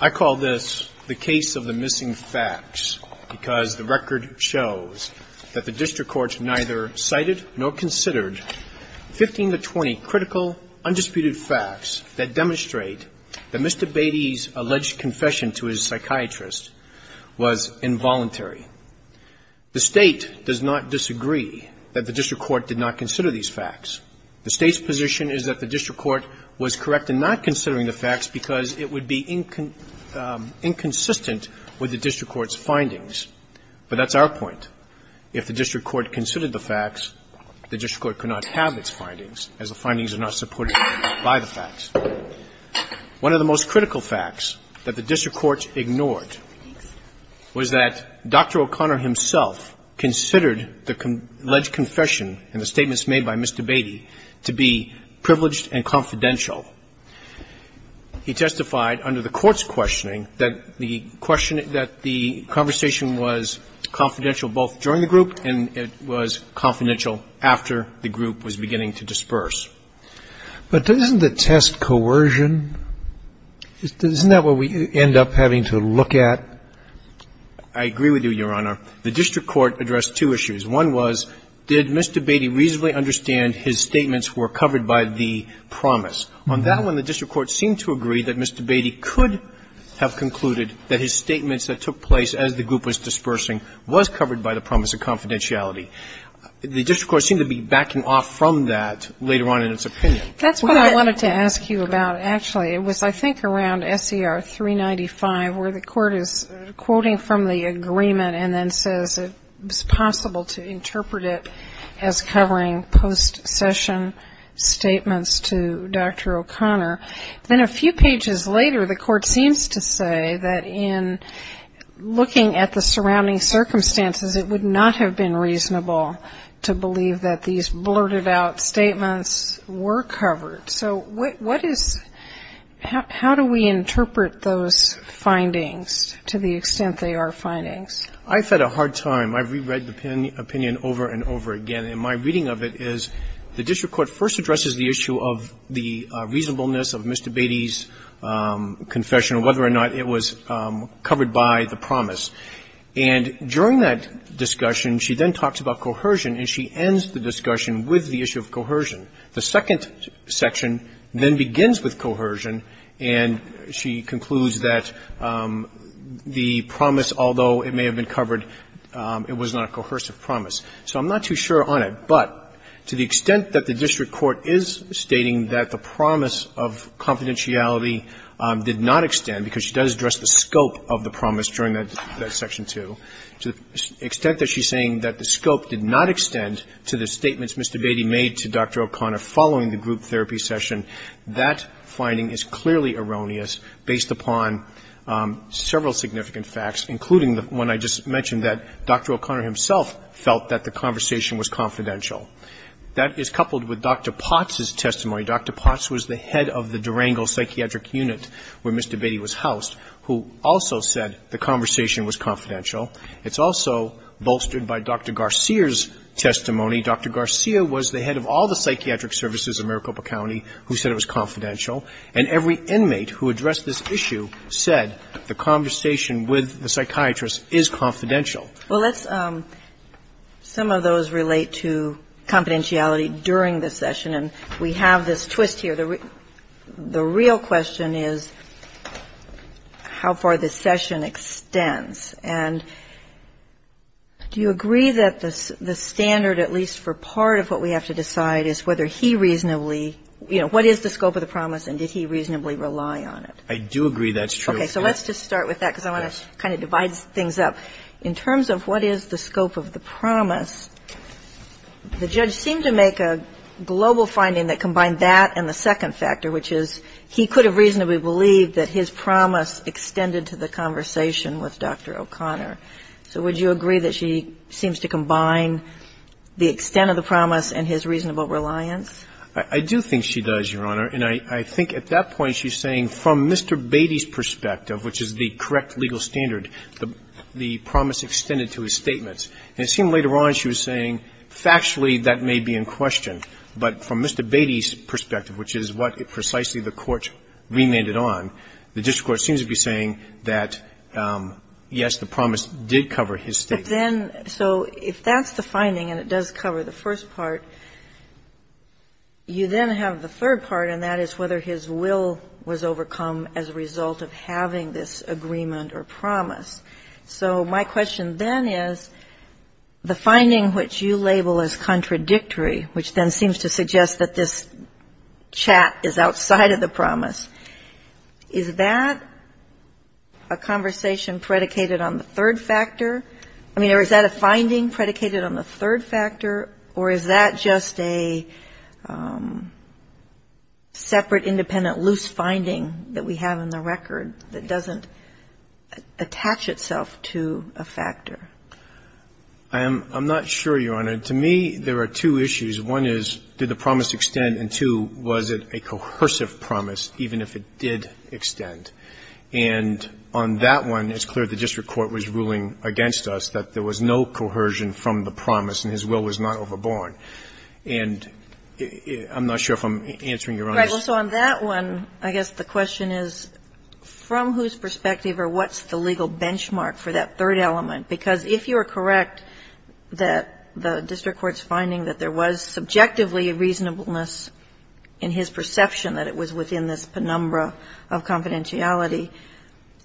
I call this the case of the missing facts because the record shows that the district courts neither cited nor considered 15 to 20 critical, undisputed facts that demonstrate that Mr. Beaty's alleged confession to his psychiatrist was involuntary. The State does not disagree that the district court did not consider these facts. The State's position is that the district court was correct in not considering the facts because it would be inconsistent with the district court's findings. But that's our point. If the district court considered the facts, the district court could not have its findings, as the findings are not supported by the facts. One of the most critical facts that the district court ignored was that Dr. O'Connor himself considered the alleged confession and the statements made by Mr. Beaty to be privileged and confidential. He testified under the court's questioning that the question that the conversation was confidential both during the group and it was confidential after the group was beginning to disperse. But isn't the test coercion? Isn't that what we end up having to look at? I agree with you, Your Honor. The district court addressed two issues. One was, did Mr. Beaty reasonably understand his statements were covered by the promise? On that one, the district court seemed to agree that Mr. Beaty could have concluded that his statements that took place as the group was dispersing was covered by the promise of confidentiality. The district court seemed to be backing off from that later on in its opinion. That's what I wanted to ask you about, actually. It was, I think, around SER 395 where the court is quoting from the agreement and then says it's possible to interpret it as covering post-session statements to Dr. O'Connor. Then a few pages later, the court seems to say that in looking at the surrounding circumstances, it would not have been reasonable to believe that these blurted out statements were covered. So what is, how do we interpret those findings to the extent they are findings? I've had a hard time. I've reread the opinion over and over again. And my reading of it is the district court first addresses the issue of the reasonableness of Mr. Beaty's confession, whether or not it was covered by the promise. And during that discussion, she then talks about coercion, and she ends the discussion with the issue of coercion. The second section then begins with coercion, and she concludes that the promise, although it may have been covered, it was not a coercive promise. So I'm not too sure on it. But to the extent that the district court is stating that the promise of confidentiality did not extend, because she does address the scope of the promise during that section 2, to the extent that she's saying that the scope did not extend to the statements Mr. Beaty made to Dr. O'Connor following the group therapy session, that finding is clearly erroneous based upon several significant facts, including the one I just mentioned, that Dr. O'Connor himself felt that the conversation was confidential. That is coupled with Dr. Potts's testimony. Dr. Potts was the head of the Durango psychiatric unit where Mr. Beaty was housed, who also said the conversation was confidential. It's also bolstered by Dr. Garcia's testimony. Dr. Garcia was the head of all the psychiatric services in Maricopa County who said it was confidential. And every inmate who addressed this issue said the conversation with the psychiatrist is confidential. Well, let's – some of those relate to confidentiality during the session. And we have this twist here. The real question is how far the session extends. And do you agree that the standard, at least for part of what we have to decide, is whether he reasonably – you know, what is the scope of the promise and did he reasonably rely on it? I do agree that's true. Okay. So let's just start with that, because I want to kind of divide things up. In terms of what is the scope of the promise, the judge seemed to make a global finding that combined that and the second factor, which is he could have reasonably believed that his promise extended to the conversation with Dr. O'Connor. So would you agree that she seems to combine the extent of the promise and his reasonable reliance? I do think she does, Your Honor. And I think at that point she's saying from Mr. Beatty's perspective, which is the correct legal standard, the promise extended to his statements. And it seemed later on she was saying factually that may be in question. But from Mr. Beatty's perspective, which is what precisely the Court remanded on, the district court seems to be saying that, yes, the promise did cover his statements. But then – so if that's the finding and it does cover the first part, you then have the third part, and that is whether his will was overcome as a result of having this agreement or promise. So my question then is, the finding which you label as contradictory, which then seems to suggest that this chat is outside of the promise, is that a conversation predicated on the third factor? I mean, or is that a finding predicated on the third factor? Or is that just a separate, independent, loose finding that we have in the record that doesn't attach itself to a factor? I'm not sure, Your Honor. To me, there are two issues. One is, did the promise extend? And two, was it a coercive promise even if it did extend? And on that one, it's clear the district court was ruling against us that there was no coercion from the promise and his will was not overborne. And I'm not sure if I'm answering Your Honor's question. Right. Well, so on that one, I guess the question is, from whose perspective or what's the legal benchmark for that third element? Because if you are correct that the district court's finding that there was subjectively a reasonableness in his perception that it was within this penumbra of confidentiality,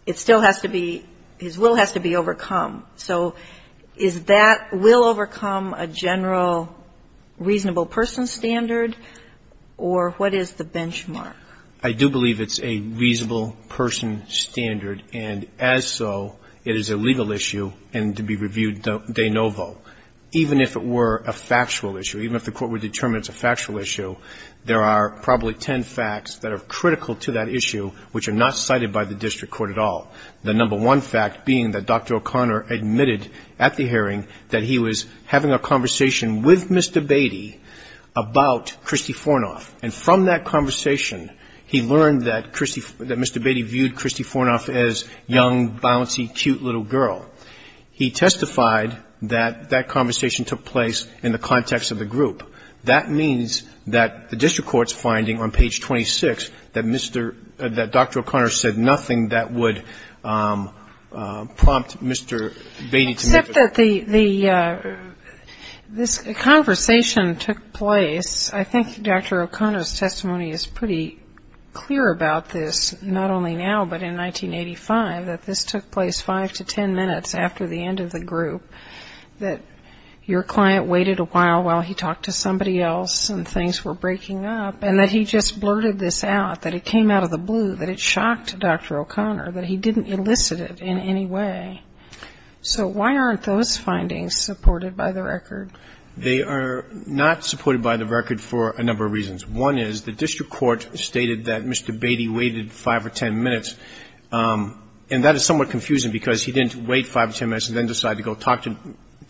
it still has to be – his will has to be overcome. So is that – will overcome a general reasonable person standard? Or what is the benchmark? I do believe it's a reasonable person standard. And as so, it is a legal issue and to be reviewed de novo. Even if it were a factual issue, even if the court would determine it's a factual issue, there are probably ten facts that are critical to that issue which are not cited by the district court at all. The number one fact being that Dr. O'Connor admitted at the hearing that he was having a conversation with Mr. Beatty about Kristi Fornoff. And from that conversation, he learned that Kristi – that Mr. Beatty viewed Kristi Fornoff as young, bouncy, cute little girl. He testified that that conversation took place in the context of the group. That means that the district court's finding on page 26 that Mr. – that Dr. O'Connor said nothing that would prompt Mr. Beatty to make a – Except that the – this conversation took place – I think Dr. O'Connor's testimony is pretty clear about this, not only now but in 1985, that this took place five to ten minutes after the end of the group. That your client waited a while while he talked to somebody else and things were breaking up and that he just blurted this out, that it came out of the blue, that it shocked Dr. O'Connor, that he didn't elicit it in any way. So why aren't those findings supported by the record? They are not supported by the record for a number of reasons. One is the district court stated that Mr. Beatty waited five or ten minutes, and that is somewhat confusing because he didn't wait five or ten minutes and then decide to go talk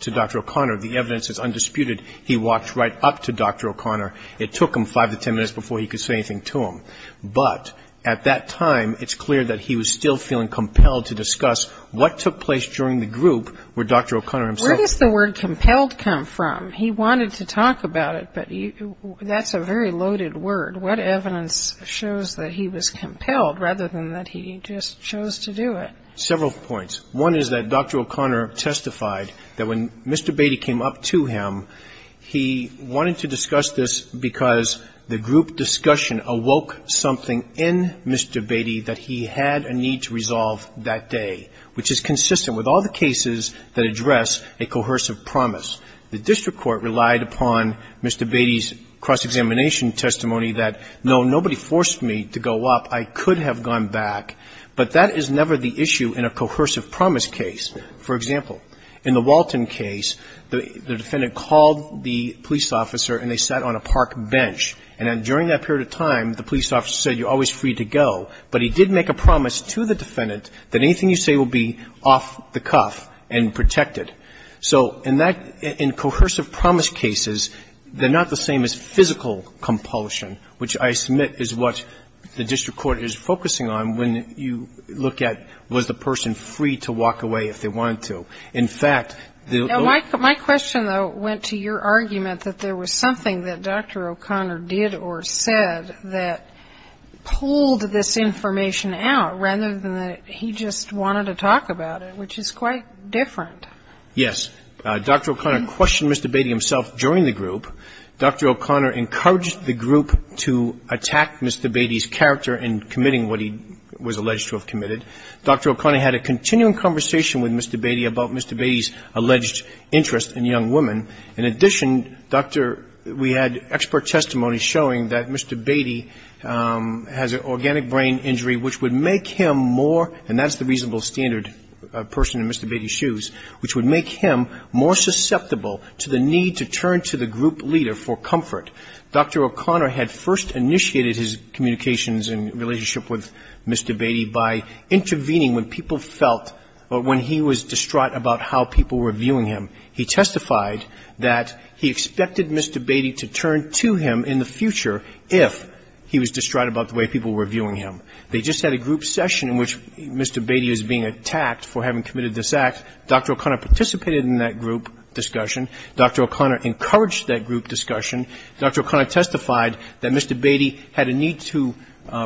to Dr. O'Connor. The evidence is undisputed. He walked right up to Dr. O'Connor. It took him five to ten minutes before he could say anything to him. But at that time, it's clear that he was still feeling compelled to discuss what took place during the group where Dr. O'Connor himself – Where does the word compelled come from? He wanted to talk about it, but that's a very loaded word. What evidence shows that he was compelled rather than that he just chose to do it? Several points. One is that Dr. O'Connor testified that when Mr. Beatty came up to him, he wanted to discuss this because the group discussion awoke something in Mr. Beatty that he had a need to resolve that day, which is consistent with all the cases that address a coercive promise. The district court relied upon Mr. Beatty's cross-examination testimony that, no, nobody forced me to go up. I could have gone back, but that is never the issue in a coercive promise case. For example, in the Walton case, the defendant called the police officer and they sat on a park bench. And during that period of time, the police officer said, you're always free to go. But he did make a promise to the defendant that anything you say will be off the cuff and protected. So in that – in coercive promise cases, they're not the same as physical compulsion, which I submit is what the district court is focusing on when you look at, was the person free to walk away if they wanted to. In fact, the – Now, my question, though, went to your argument that there was something that Dr. O'Connor did or said that pulled this information out, rather than that he just wanted to talk about it, which is quite different. Yes. Dr. O'Connor questioned Mr. Beatty himself during the group. Dr. O'Connor encouraged the group to attack Mr. Beatty's character in committing what he was alleged to have committed. Dr. O'Connor had a continuing conversation with Mr. Beatty about Mr. Beatty's alleged interest in young women. In addition, Dr. – we had expert testimony showing that Mr. Beatty has an organic brain injury, which would make him more – and that's the reasonable standard person in Mr. Beatty's shoes – which would make him more susceptible to the need to turn to the group leader for comfort. Dr. O'Connor had first initiated his communications and relationship with Mr. Beatty by intervening when people felt – or when he was distraught about how people were viewing him. He testified that he expected Mr. Beatty to turn to him in the future if he was distraught about the way people were viewing him. They just had a group session in which Mr. Beatty is being attacked for having committed this act. Dr. O'Connor participated in that group discussion. Dr. O'Connor encouraged that group discussion. Dr. O'Connor testified that Mr. Beatty had a need to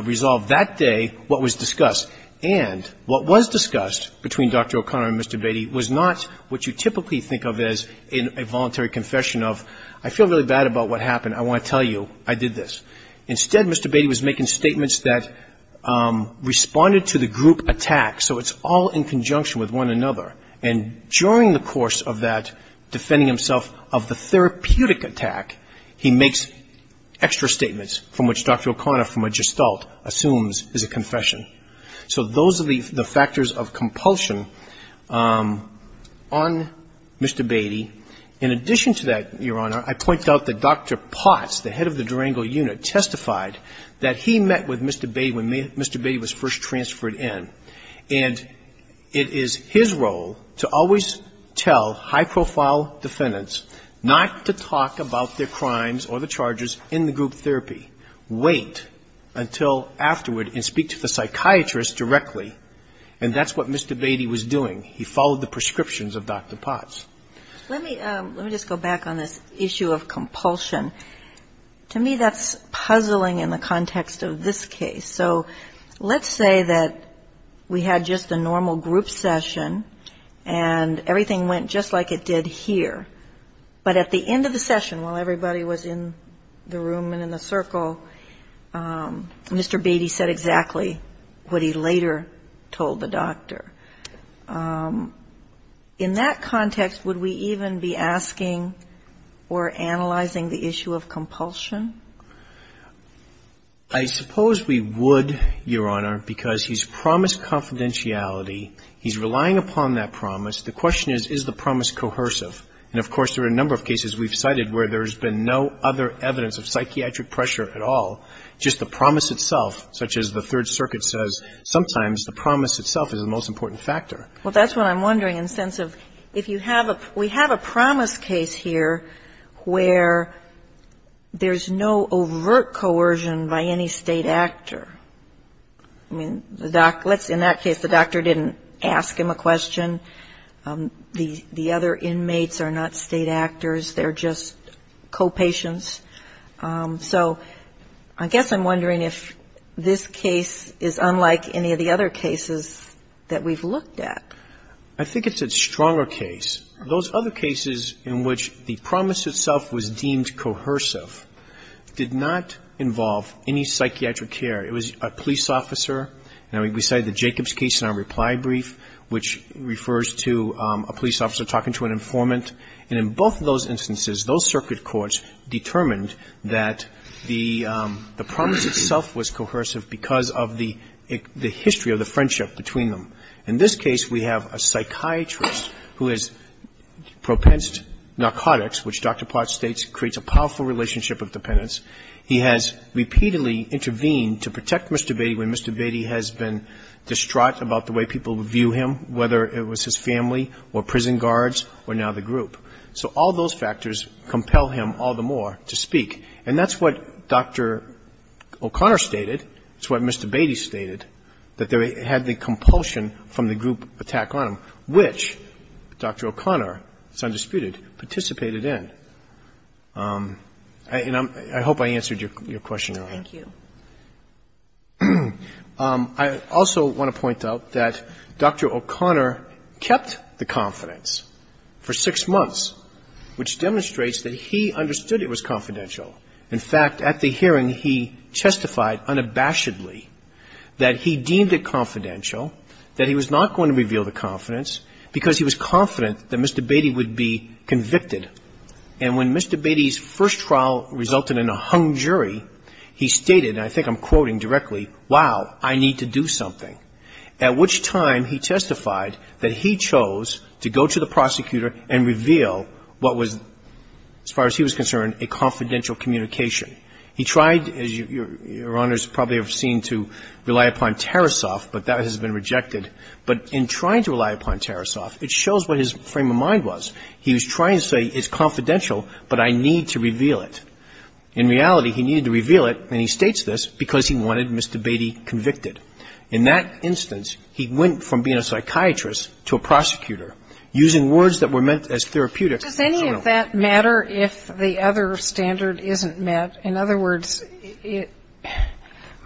resolve that day what was discussed. And what was discussed between Dr. O'Connor and Mr. Beatty was not what you typically think of as a voluntary confession of, I feel really bad about what happened. I want to tell you I did this. Instead, Mr. Beatty was making statements that responded to the group attack. So it's all in conjunction with one another. And during the course of that defending himself of the therapeutic attack, he makes extra statements from which Dr. O'Connor from a gestalt assumes is a confession. So those are the factors of compulsion on Mr. Beatty. In addition to that, Your Honor, I pointed out that Dr. Potts, the head of the Durango unit, testified that he met with Mr. Beatty when Mr. Beatty was first transferred in. And it is his role to always tell high-profile defendants not to talk about their crimes or the charges in the group therapy. Wait until afterward and speak to the psychiatrist directly. And that's what Mr. Beatty was doing. He followed the prescriptions of Dr. Potts. Let me just go back on this issue of compulsion. To me, that's puzzling in the context of this case. So let's say that we had just a normal group session, and everything went just like it did here. But at the end of the session, while everybody was in the room and in the circle, Mr. Beatty said exactly what he later told the doctor. In that context, would we even be asking or analyzing the issue of compulsion? I suppose we would, Your Honor, because he's promised confidentiality. He's relying upon that promise. The question is, is the promise coercive? And, of course, there are a number of cases we've cited where there's been no other evidence of psychiatric pressure at all, just the promise itself, such as the Third Circuit says sometimes the promise itself is the most important factor. Well, that's what I'm wondering in the sense of if you have a we have a promise case here where there's no overt coercion by any State actor. I mean, in that case, the doctor didn't ask him a question. The other inmates are not State actors. They're just co-patients. So I guess I'm wondering if this case is unlike any of the other cases that we've looked at. I think it's a stronger case. Those other cases in which the promise itself was deemed coercive did not involve any psychiatric care. It was a police officer. Now, we cited the Jacobs case in our reply brief, which refers to a police officer talking to an informant. And in both of those instances, those circuit courts determined that the promise itself was coercive because of the history of the friendship between them. In this case, we have a psychiatrist who has propensed narcotics, which Dr. Potts states creates a powerful relationship of dependence. He has repeatedly intervened to protect Mr. Beatty when Mr. Beatty has been distraught about the way people view him, whether it was his family or prison guards or now the group. So all those factors compel him all the more to speak. And that's what Dr. O'Connor stated. It's what Mr. Beatty stated, that they had the compulsion from the group attack on him, which Dr. O'Connor, it's undisputed, participated in. And I hope I answered your question. Thank you. I also want to point out that Dr. O'Connor kept the confidence for six months, which demonstrates that he understood it was confidential. In fact, at the hearing, he testified unabashedly that he deemed it confidential, that he was not going to reveal the confidence because he was confident that Mr. Beatty would be convicted. And when Mr. Beatty's first trial resulted in a hung jury, he stated, and I think I'm quoting directly, wow, I need to do something. At which time he testified that he chose to go to the prosecutor and reveal what was, as far as he was concerned, a confidential communication. He tried, as Your Honors probably have seen, to rely upon Tarasoff, but that has been rejected. But in trying to rely upon Tarasoff, it shows what his frame of mind was. He was trying to say it's confidential, but I need to reveal it. In reality, he needed to reveal it, and he states this, because he wanted Mr. Beatty convicted. In that instance, he went from being a psychiatrist to a prosecutor using words that were meant as therapeutic. Does any of that matter if the other standard isn't met? In other words,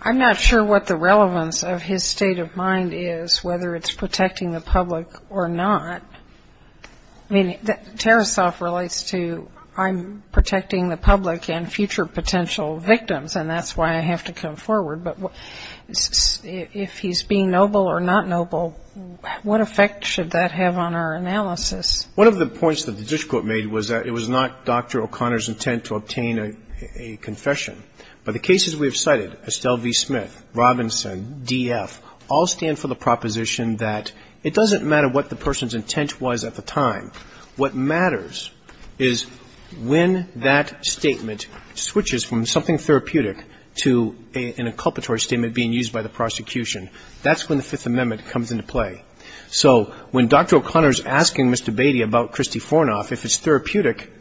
I'm not sure what the relevance of his state of mind is, whether it's protecting the public or not. I mean, Tarasoff relates to I'm protecting the public and future potential victims, and that's why I have to come forward. But if he's being noble or not noble, what effect should that have on our analysis? One of the points that the disquote made was that it was not Dr. O'Connor's intent to obtain a confession. But the cases we have cited, Estelle v. Smith, Robinson, D.F., all stand for the proposition that it doesn't matter what the person's intent was at the time. What matters is when that statement switches from something therapeutic to an inculpatory statement being used by the prosecution. That's when the Fifth Amendment comes into play. So when Dr. O'Connor is asking Mr. Beatty about Christy Fornoff, if it's therapeutic,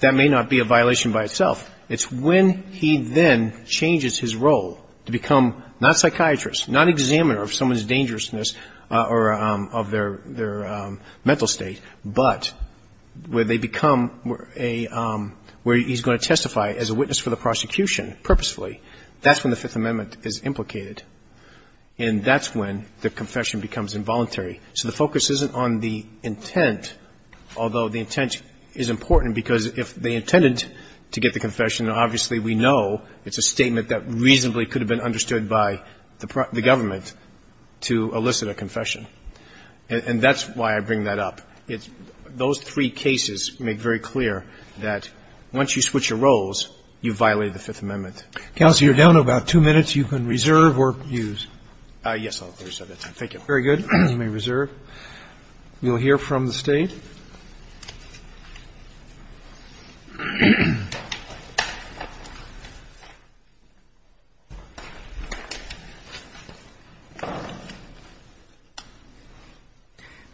that may not be a violation by itself. It's when he then changes his role to become not psychiatrist, not examiner of someone's dangerousness or of their mental state, but where they become a, where he's going to testify as a witness for the prosecution purposefully. That's when the Fifth Amendment is implicated. And that's when the confession becomes involuntary. So the focus isn't on the intent, although the intent is important, because if they intended to get the confession, obviously we know it's a statement that reasonably could have been understood by the government to elicit a confession. And that's why I bring that up. Those three cases make very clear that once you switch your roles, you violate the Fifth Amendment. Counsel, you're down to about two minutes. You can reserve or use. Yes, I'll reserve it. Thank you. Very good. You may reserve. We'll hear from the State.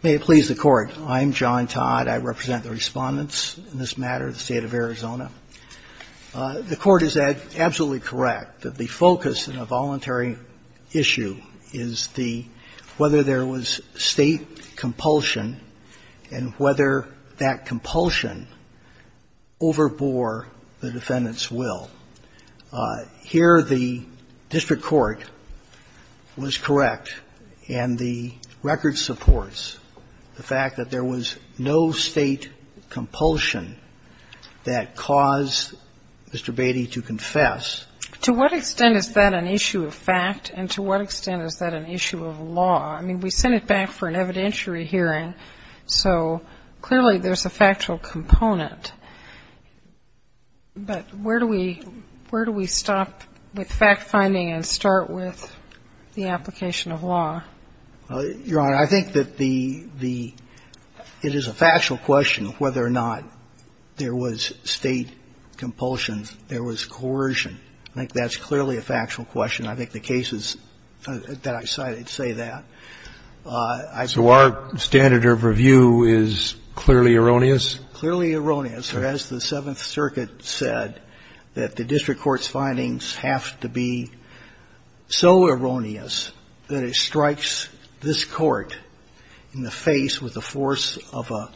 May it please the Court. I'm John Todd. I represent the Respondents in this matter of the State of Arizona. The Court is absolutely correct that the focus in a voluntary issue is the whether there was State compulsion and whether that compulsion overbore the defendant's will. Here the district court was correct, and the record supports the fact that there was no State compulsion that caused Mr. Beatty to confess. To what extent is that an issue of fact, and to what extent is that an issue of law? I mean, we sent it back for an evidentiary hearing, so clearly there's a factual component. But where do we stop with fact-finding and start with the application of law? Your Honor, I think that it is a factual question whether or not there was State compulsions, there was coercion. I think that's clearly a factual question. I think the cases that I cited say that. So our standard of review is clearly erroneous? Clearly erroneous. As the Seventh Circuit said, that the district court's findings have to be so erroneous that it strikes this Court in the face with the force of a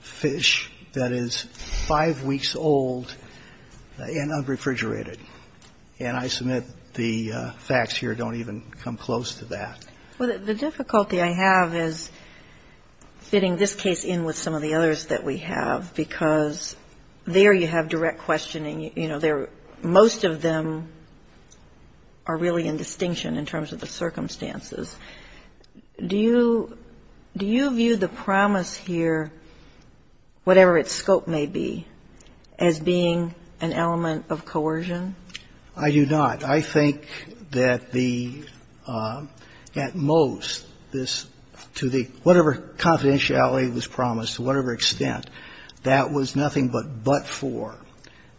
fish that is five weeks old and unrefrigerated. And I submit the facts here don't even come close to that. Well, the difficulty I have is fitting this case in with some of the others that we have, because there you have direct questioning. You know, most of them are really in distinction in terms of the circumstances. Do you view the promise here, whatever its scope may be, as being an element of coercion? I do not. I think that the at most this to the whatever confidentiality was promised, to whatever extent, that was nothing but but for.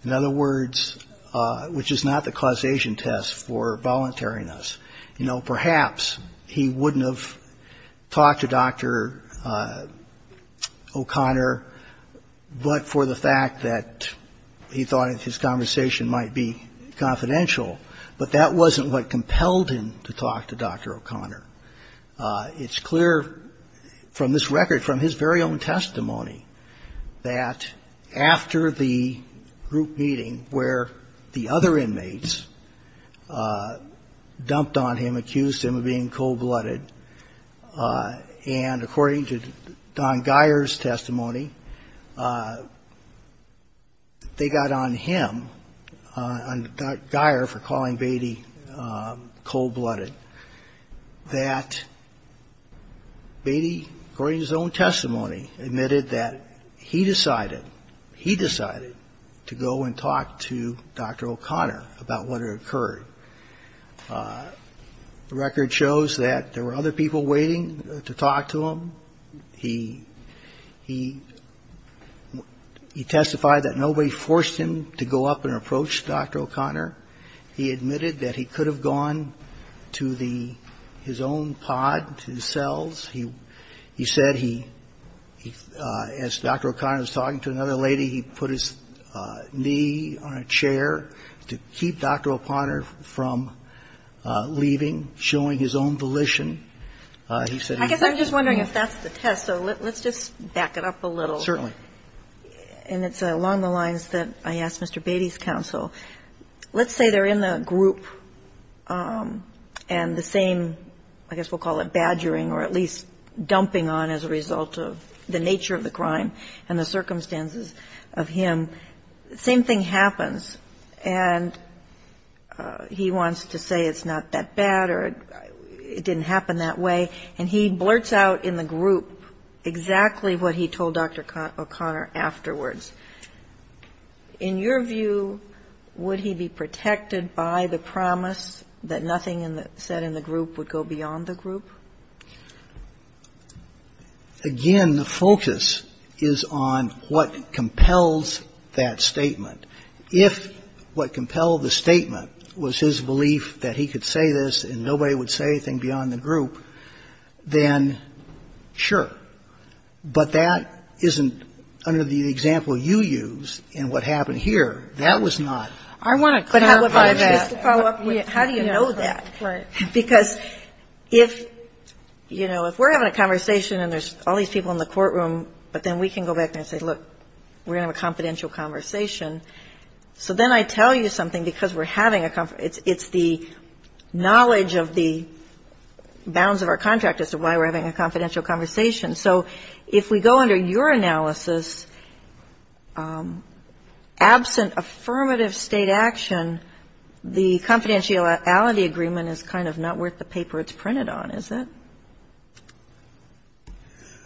In other words, which is not the causation test for voluntariness, you know, perhaps he wouldn't have talked to Dr. O'Connor but for the fact that he thought his conversation might be confidential. But that wasn't what compelled him to talk to Dr. O'Connor. It's clear from this record, from his very own testimony, that after the group meeting where the other inmates dumped on him, accused him of being cold-blooded, and according to Don Guyer's testimony, they got on him, on Guyer for calling him cold-blooded, that Beatty, according to his own testimony, admitted that he decided, he decided to go and talk to Dr. O'Connor about what had occurred. The record shows that there were other people waiting to talk to him. He testified that nobody forced him to go up and approach Dr. O'Connor. He admitted that he could have gone to the, his own pod, to the cells. He said he, as Dr. O'Connor was talking to another lady, he put his knee on a chair to keep Dr. O'Connor from leaving, showing his own volition. He said he was. I guess I'm just wondering if that's the test, so let's just back it up a little. Certainly. And it's along the lines that I asked Mr. Beatty's counsel. Let's say they're in the group and the same, I guess we'll call it badgering or at least dumping on as a result of the nature of the crime and the circumstances of him. The same thing happens and he wants to say it's not that bad or it didn't happen that way and he blurts out in the group exactly what he told Dr. O'Connor afterwards. In your view, would he be protected by the promise that nothing said in the group would go beyond the group? Again, the focus is on what compels that statement. If what compelled the statement was his belief that he could say this and nobody would say anything beyond the group, then sure. But that isn't under the example you use in what happened here. That was not. I want to clarify that. But how do you know that? Right. Because if, you know, if we're having a conversation and there's all these people in the courtroom, but then we can go back and say, look, we're going to have a confidential conversation. So then I tell you something because we're having a conference. It's the knowledge of the bounds of our contract as to why we're having a confidential conversation. So if we go under your analysis, absent affirmative State action, the confidentiality agreement is kind of not worth the paper it's printed on, is it?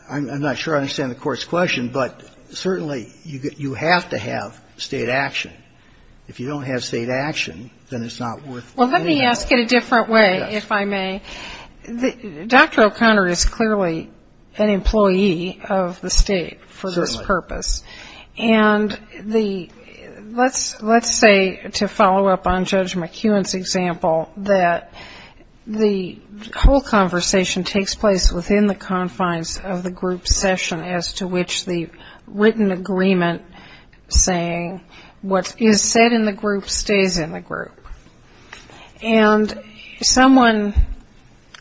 I'm not sure I understand the Court's question, but certainly you have to have State action. If you don't have State action, then it's not worth anything. Well, let me ask it a different way, if I may. Dr. O'Connor is clearly an employee of the State for this purpose. And let's say, to follow up on Judge McEwen's example, that the whole conversation takes place within the confines of the group session as to which the written agreement saying what is said in the group stays in the group. And someone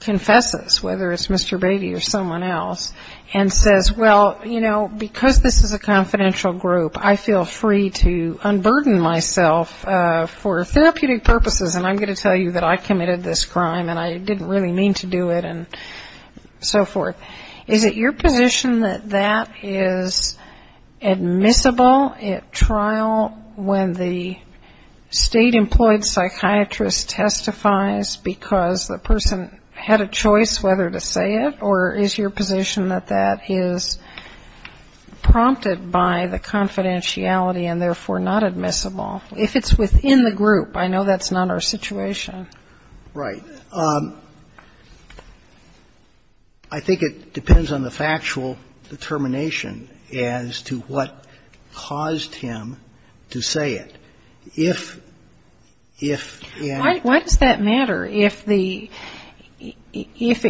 confesses, whether it's Mr. Beatty or someone else, and says, well, you know, because this is a confidential group, I feel free to unburden myself for therapeutic purposes, and I'm going to tell you that I committed this crime and I didn't really mean to do it and so forth. Is it your position that that is admissible at trial when the State-employed psychiatrist testifies because the person had a choice whether to say it, or is your position that that is prompted by the confidentiality and therefore not admissible? If it's within the group, I know that's not our situation. Right. I think it depends on the factual determination as to what caused him to say it. If and ‑‑ Why does that matter? If it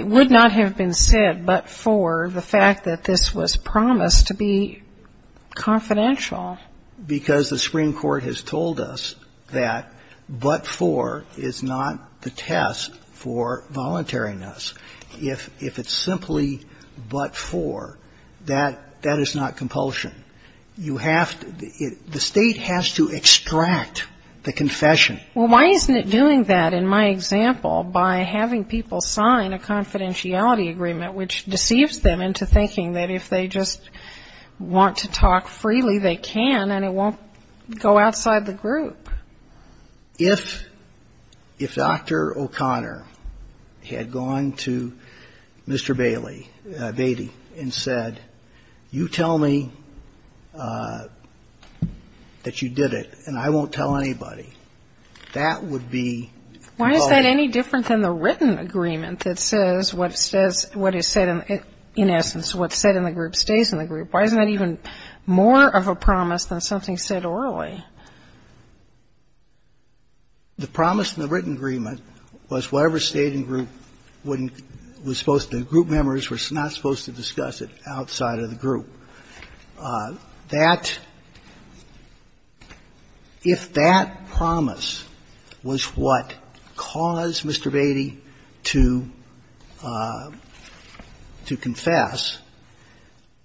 would not have been said but for the fact that this was promised to be confidential? Because the Supreme Court has told us that but for is not the test for voluntariness. If it's simply but for, that is not compulsion. You have to ‑‑ the State has to extract the confession. Well, why isn't it doing that in my example by having people sign a confidentiality agreement, which deceives them into thinking that if they just want to talk freely, they can and it won't go outside the group? If Dr. O'Connor had gone to Mr. Bailey, Batey, and said, you tell me that you did it and I won't tell anybody, that would be ‑‑ Why is that any different than the written agreement that says what is said in essence, what's said in the group stays in the group? Why isn't that even more of a promise than something said orally? The promise in the written agreement was whatever stayed in group wouldn't ‑‑ was supposed to ‑‑ the group members were not supposed to discuss it outside of the group. So that ‑‑ if that promise was what caused Mr. Batey to confess,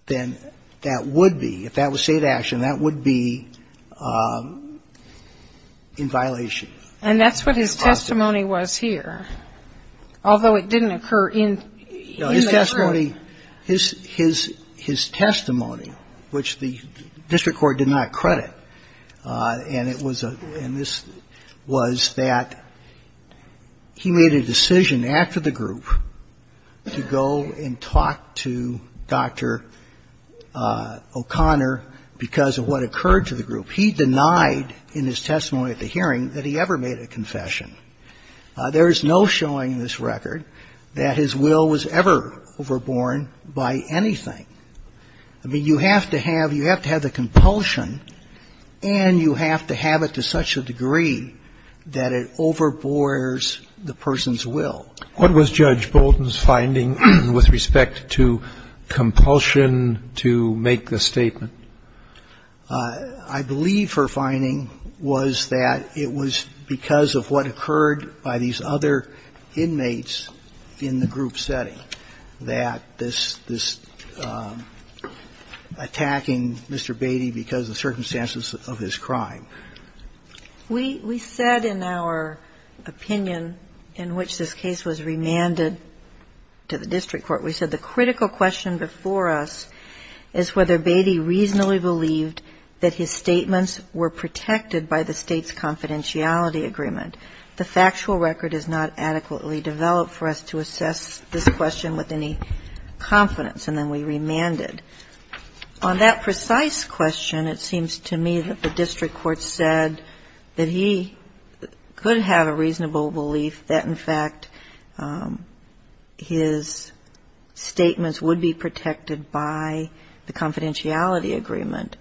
then that would be, if that was state action, that would be in violation. And that's what his testimony was here, although it didn't occur in the group. His testimony, which the district court did not credit, and it was a ‑‑ and this was that he made a decision after the group to go and talk to Dr. O'Connor because of what occurred to the group. He denied in his testimony at the hearing that he ever made a confession. There is no showing in this record that his will was ever overborne by anything. I mean, you have to have ‑‑ you have to have the compulsion and you have to have it to such a degree that it overbores the person's will. What was Judge Bolton's finding with respect to compulsion to make the statement? I believe her finding was that it was because of what occurred by these other inmates in the group setting, that this attacking Mr. Batey because of the circumstances of his crime. We said in our opinion in which this case was remanded to the district court, we said the critical question before us is whether Batey reasonably believed that his statements were protected by the state's confidentiality agreement. The factual record is not adequately developed for us to assess this question with any confidence, and then we remanded. On that precise question, it seems to me that the district court said that he could have a reasonable belief that, in fact, his statements would be protected by the confidentiality agreement.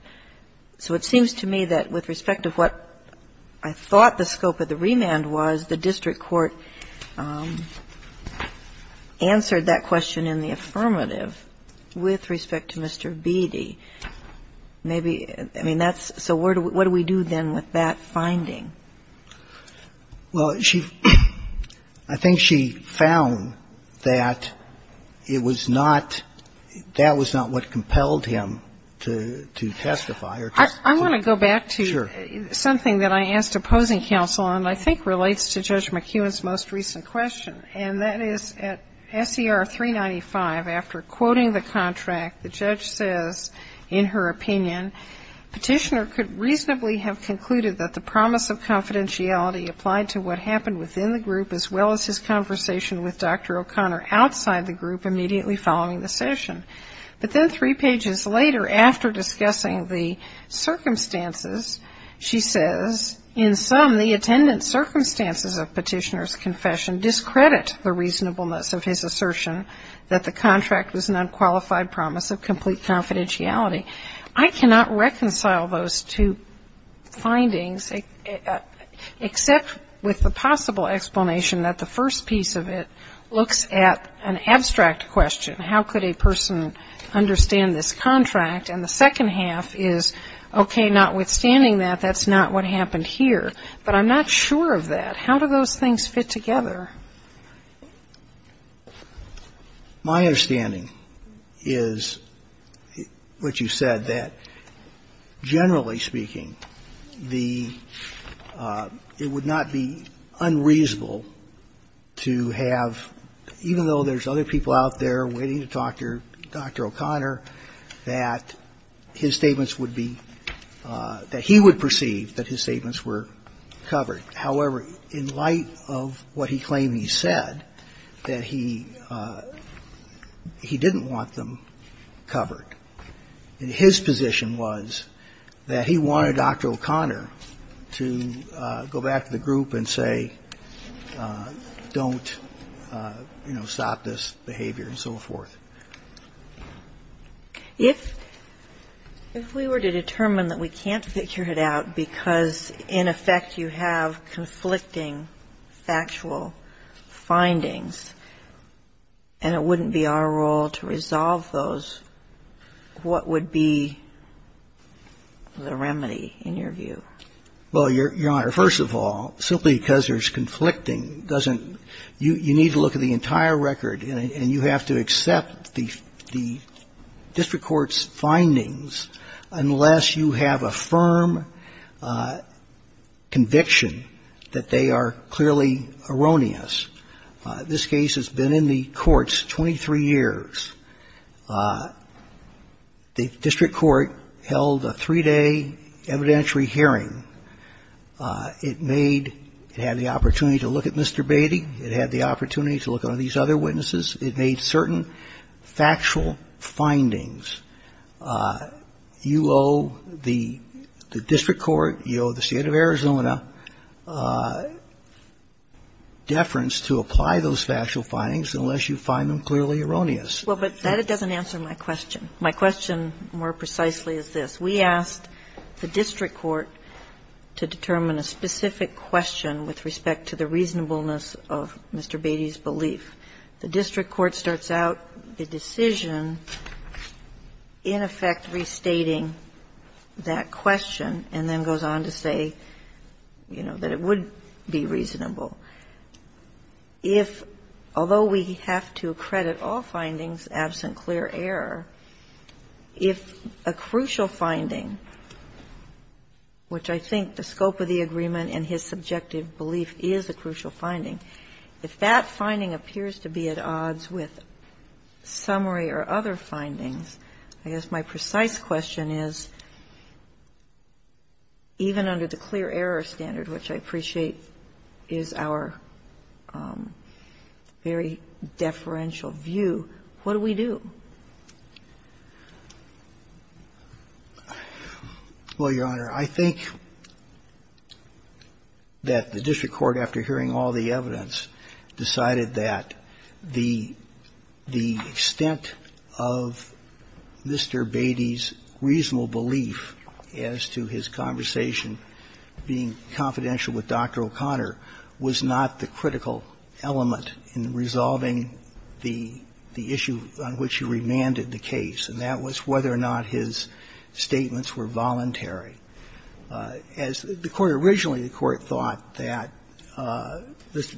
So it seems to me that with respect to what I thought the scope of the remand was, the district court answered that it was because of what occurred by these other inmates in the group setting, that this attacking Mr. Batey. Maybe, I mean, that's so what do we do then with that finding? Well, she, I think she found that it was not, that was not what compelled him to testify. I want to go back to something that I asked opposing counsel on, and I think relates to Judge McEwen's most recent question, and that is at SER 395, after quoting the contract, the judge says, in her opinion, petitioner could reasonably have concluded that the promise of confidentiality applied to what happened within the group, as well as his conversation with Dr. O'Connor outside the group immediately following the session. But then three pages later, after discussing the circumstances, she says, in sum, the attendant circumstances of petitioner's confession discredit the reasonableness of his assertion that the contract was an unqualified promise of complete confidentiality. I cannot reconcile those two findings, except with the possible explanation that the first piece of it looks at an abstract question, how could a person understand this contract, and the second half is, okay, notwithstanding that, that's not what the question is, how do those things fit together? My understanding is what you said, that generally speaking, the, it would not be unreasonable to have, even though there's other people out there waiting to talk to Dr. O'Connor, that his statements would be, that he would perceive that his statements were covered. However, in light of what he claimed he said, that he didn't want them covered. And his position was that he wanted Dr. O'Connor to go back to the group and say, don't, you know, stop this behavior and so forth. If we were to determine that we can't figure it out because, in effect, you have conflicting factual findings, and it wouldn't be our role to resolve those, what would be the remedy, in your view? Well, Your Honor, first of all, simply because there's conflicting doesn't, you need to look at the entire record, and you have to accept the district court's findings unless you have a firm conviction that they are clearly erroneous. This case has been in the courts 23 years. The district court held a three-day evidentiary hearing. It made, it had the opportunity to look at Mr. Beatty. It had the opportunity to look at these other witnesses. It made certain factual findings. You owe the district court, you owe the State of Arizona deference to apply those factual findings unless you find them clearly erroneous. Well, but that doesn't answer my question. My question, more precisely, is this. We asked the district court to determine a specific question with respect to the reasonableness of Mr. Beatty's belief. The district court starts out the decision in effect restating that question and then goes on to say, you know, that it would be reasonable. If, although we have to credit all findings absent clear error, if a crucial finding, which I think the scope of the agreement and his subjective belief is a crucial finding, if that finding appears to be at odds with summary or other findings, I guess my precise question is, even under the clear error standard, which I appreciate is our very deferential view, what do we do? Well, Your Honor, I think that the district court, after hearing all the evidence, decided that the extent of Mr. Beatty's reasonable belief as to his conversation being confidential with Dr. O'Connor was not the critical element in resolving the issue on which he was referring to. And that was whether or not he had remanded the case and that was whether or not his statements were voluntary. As the court originally, the court thought that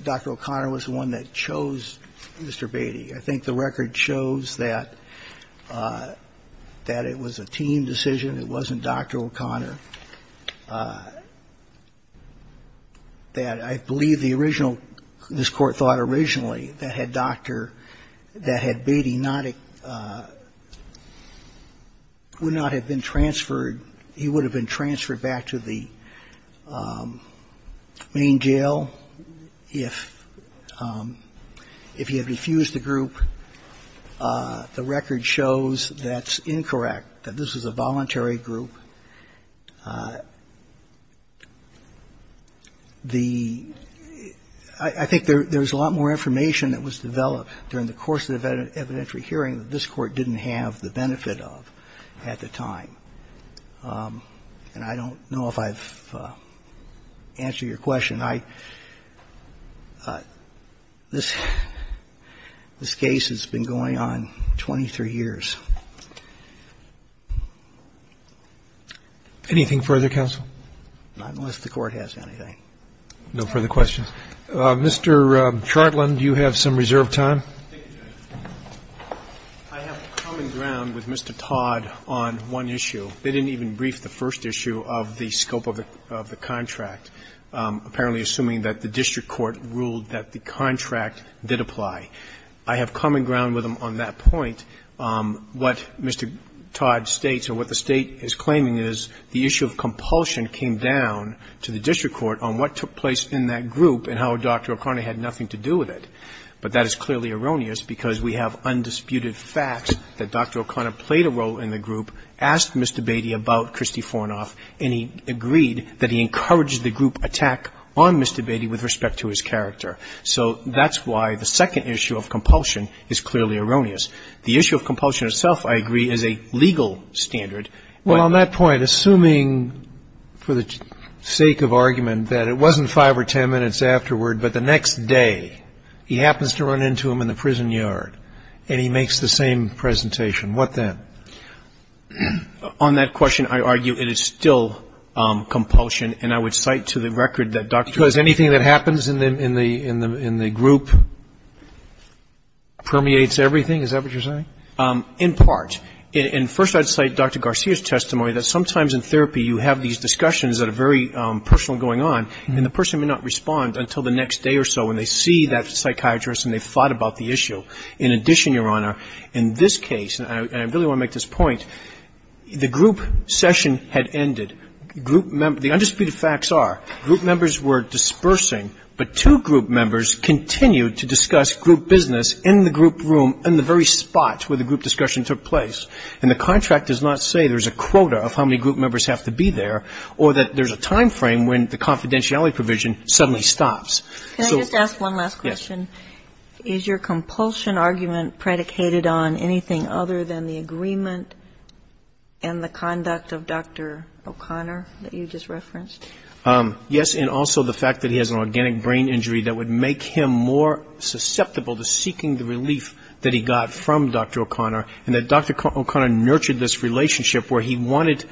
Dr. O'Connor was the one that chose Mr. Beatty. I think the record shows that it was a team decision, it wasn't Dr. O'Connor, that I believe the original, this court thought originally that had Dr. Beatty not been transferred, he would have been transferred back to the main jail if he had refused the group. The record shows that's incorrect, that this was a voluntary group. The – I think there's a lot more information that was developed during the course of the evidentiary hearing that this court didn't have the benefit of at the time. And I don't know if I've answered your question. I – this case has been going on 23 years. Anything further, counsel? Not unless the court has anything. No further questions. Mr. Chartland, you have some reserved time. I have common ground with Mr. Todd on one issue. They didn't even brief the first issue of the scope of the contract, apparently assuming that the district court ruled that the contract did apply. I have common ground with him on that point. What Mr. Todd states or what the state is claiming is the issue of compulsion came down to the district court on what took place in that group and how Dr. O'Connor had nothing to do with it. But that is clearly erroneous because we have undisputed facts that Dr. O'Connor played a role in the group, asked Mr. Beatty about Christy Fornoff, and he agreed that he encouraged the group attack on Mr. Beatty with respect to his character. So that's why the second issue of compulsion is clearly erroneous. The issue of compulsion itself, I agree, is a legal standard. Well, on that point, assuming for the sake of argument that it wasn't five or ten minutes afterward, but the next day, he happens to run into him in the prison yard, and he makes the same presentation, what then? On that question, I argue it is still compulsion, and I would cite to the record that Dr. O'Connor in the group permeates everything, is that what you're saying? In part. And first I'd cite Dr. Garcia's testimony that sometimes in therapy you have these discussions that are very personal going on, and the person may not respond until the next day or so when they see that psychiatrist and they've thought about the issue. In addition, Your Honor, in this case, and I really want to make this point, the group session had ended. The undisputed facts are group members were dispersing, but two group members continued to discuss group business in the group room in the very spot where the group discussion took place. And the contract does not say there's a quota of how many group members have to be there, or that there's a time frame when the confidentiality provision suddenly stops. Can I just ask one last question? Is your compulsion argument predicated on anything other than the agreement and the conduct of Dr. O'Connor that you just referenced? Yes, and also the fact that he has an organic brain injury that would make him more susceptible to seeking the relief that he got from Dr. O'Connor, and that Dr. O'Connor nurtured this relationship where he wanted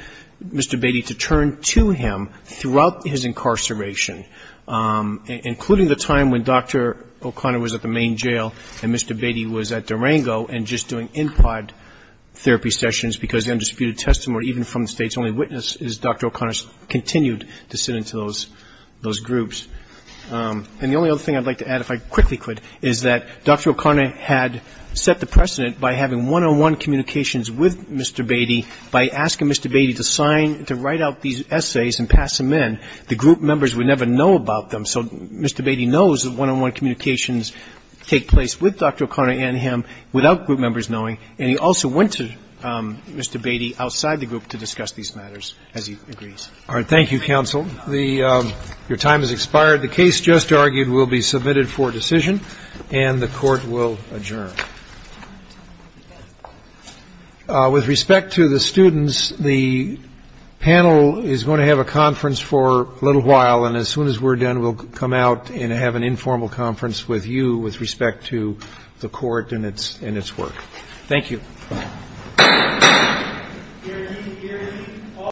Mr. Beatty to turn to him throughout his incarceration, including the time when Dr. O'Connor was in prison. Dr. O'Connor was at the main jail, and Mr. Beatty was at Durango and just doing NPOD therapy sessions, because the undisputed testimony, even from the State's only witness, is Dr. O'Connor continued to sit into those groups. And the only other thing I'd like to add, if I quickly could, is that Dr. O'Connor had set the precedent by having one-on-one communications with Mr. Beatty, by asking Mr. Beatty to sign, to write out these essays and pass them in. The group members would never know about them, so Mr. Beatty knows that one-on-one communications take place with Dr. O'Connor and him without group members knowing, and he also went to Mr. Beatty outside the group to discuss these matters, as he agrees. All right, thank you, counsel. Your time has expired. The case just argued will be submitted for decision, and the Court will adjourn. With respect to the students, the panel is going to have a conference for a little while, and as soon as we're done, we'll come out and have an informal conference with you with respect to the Court and its work. Thank you.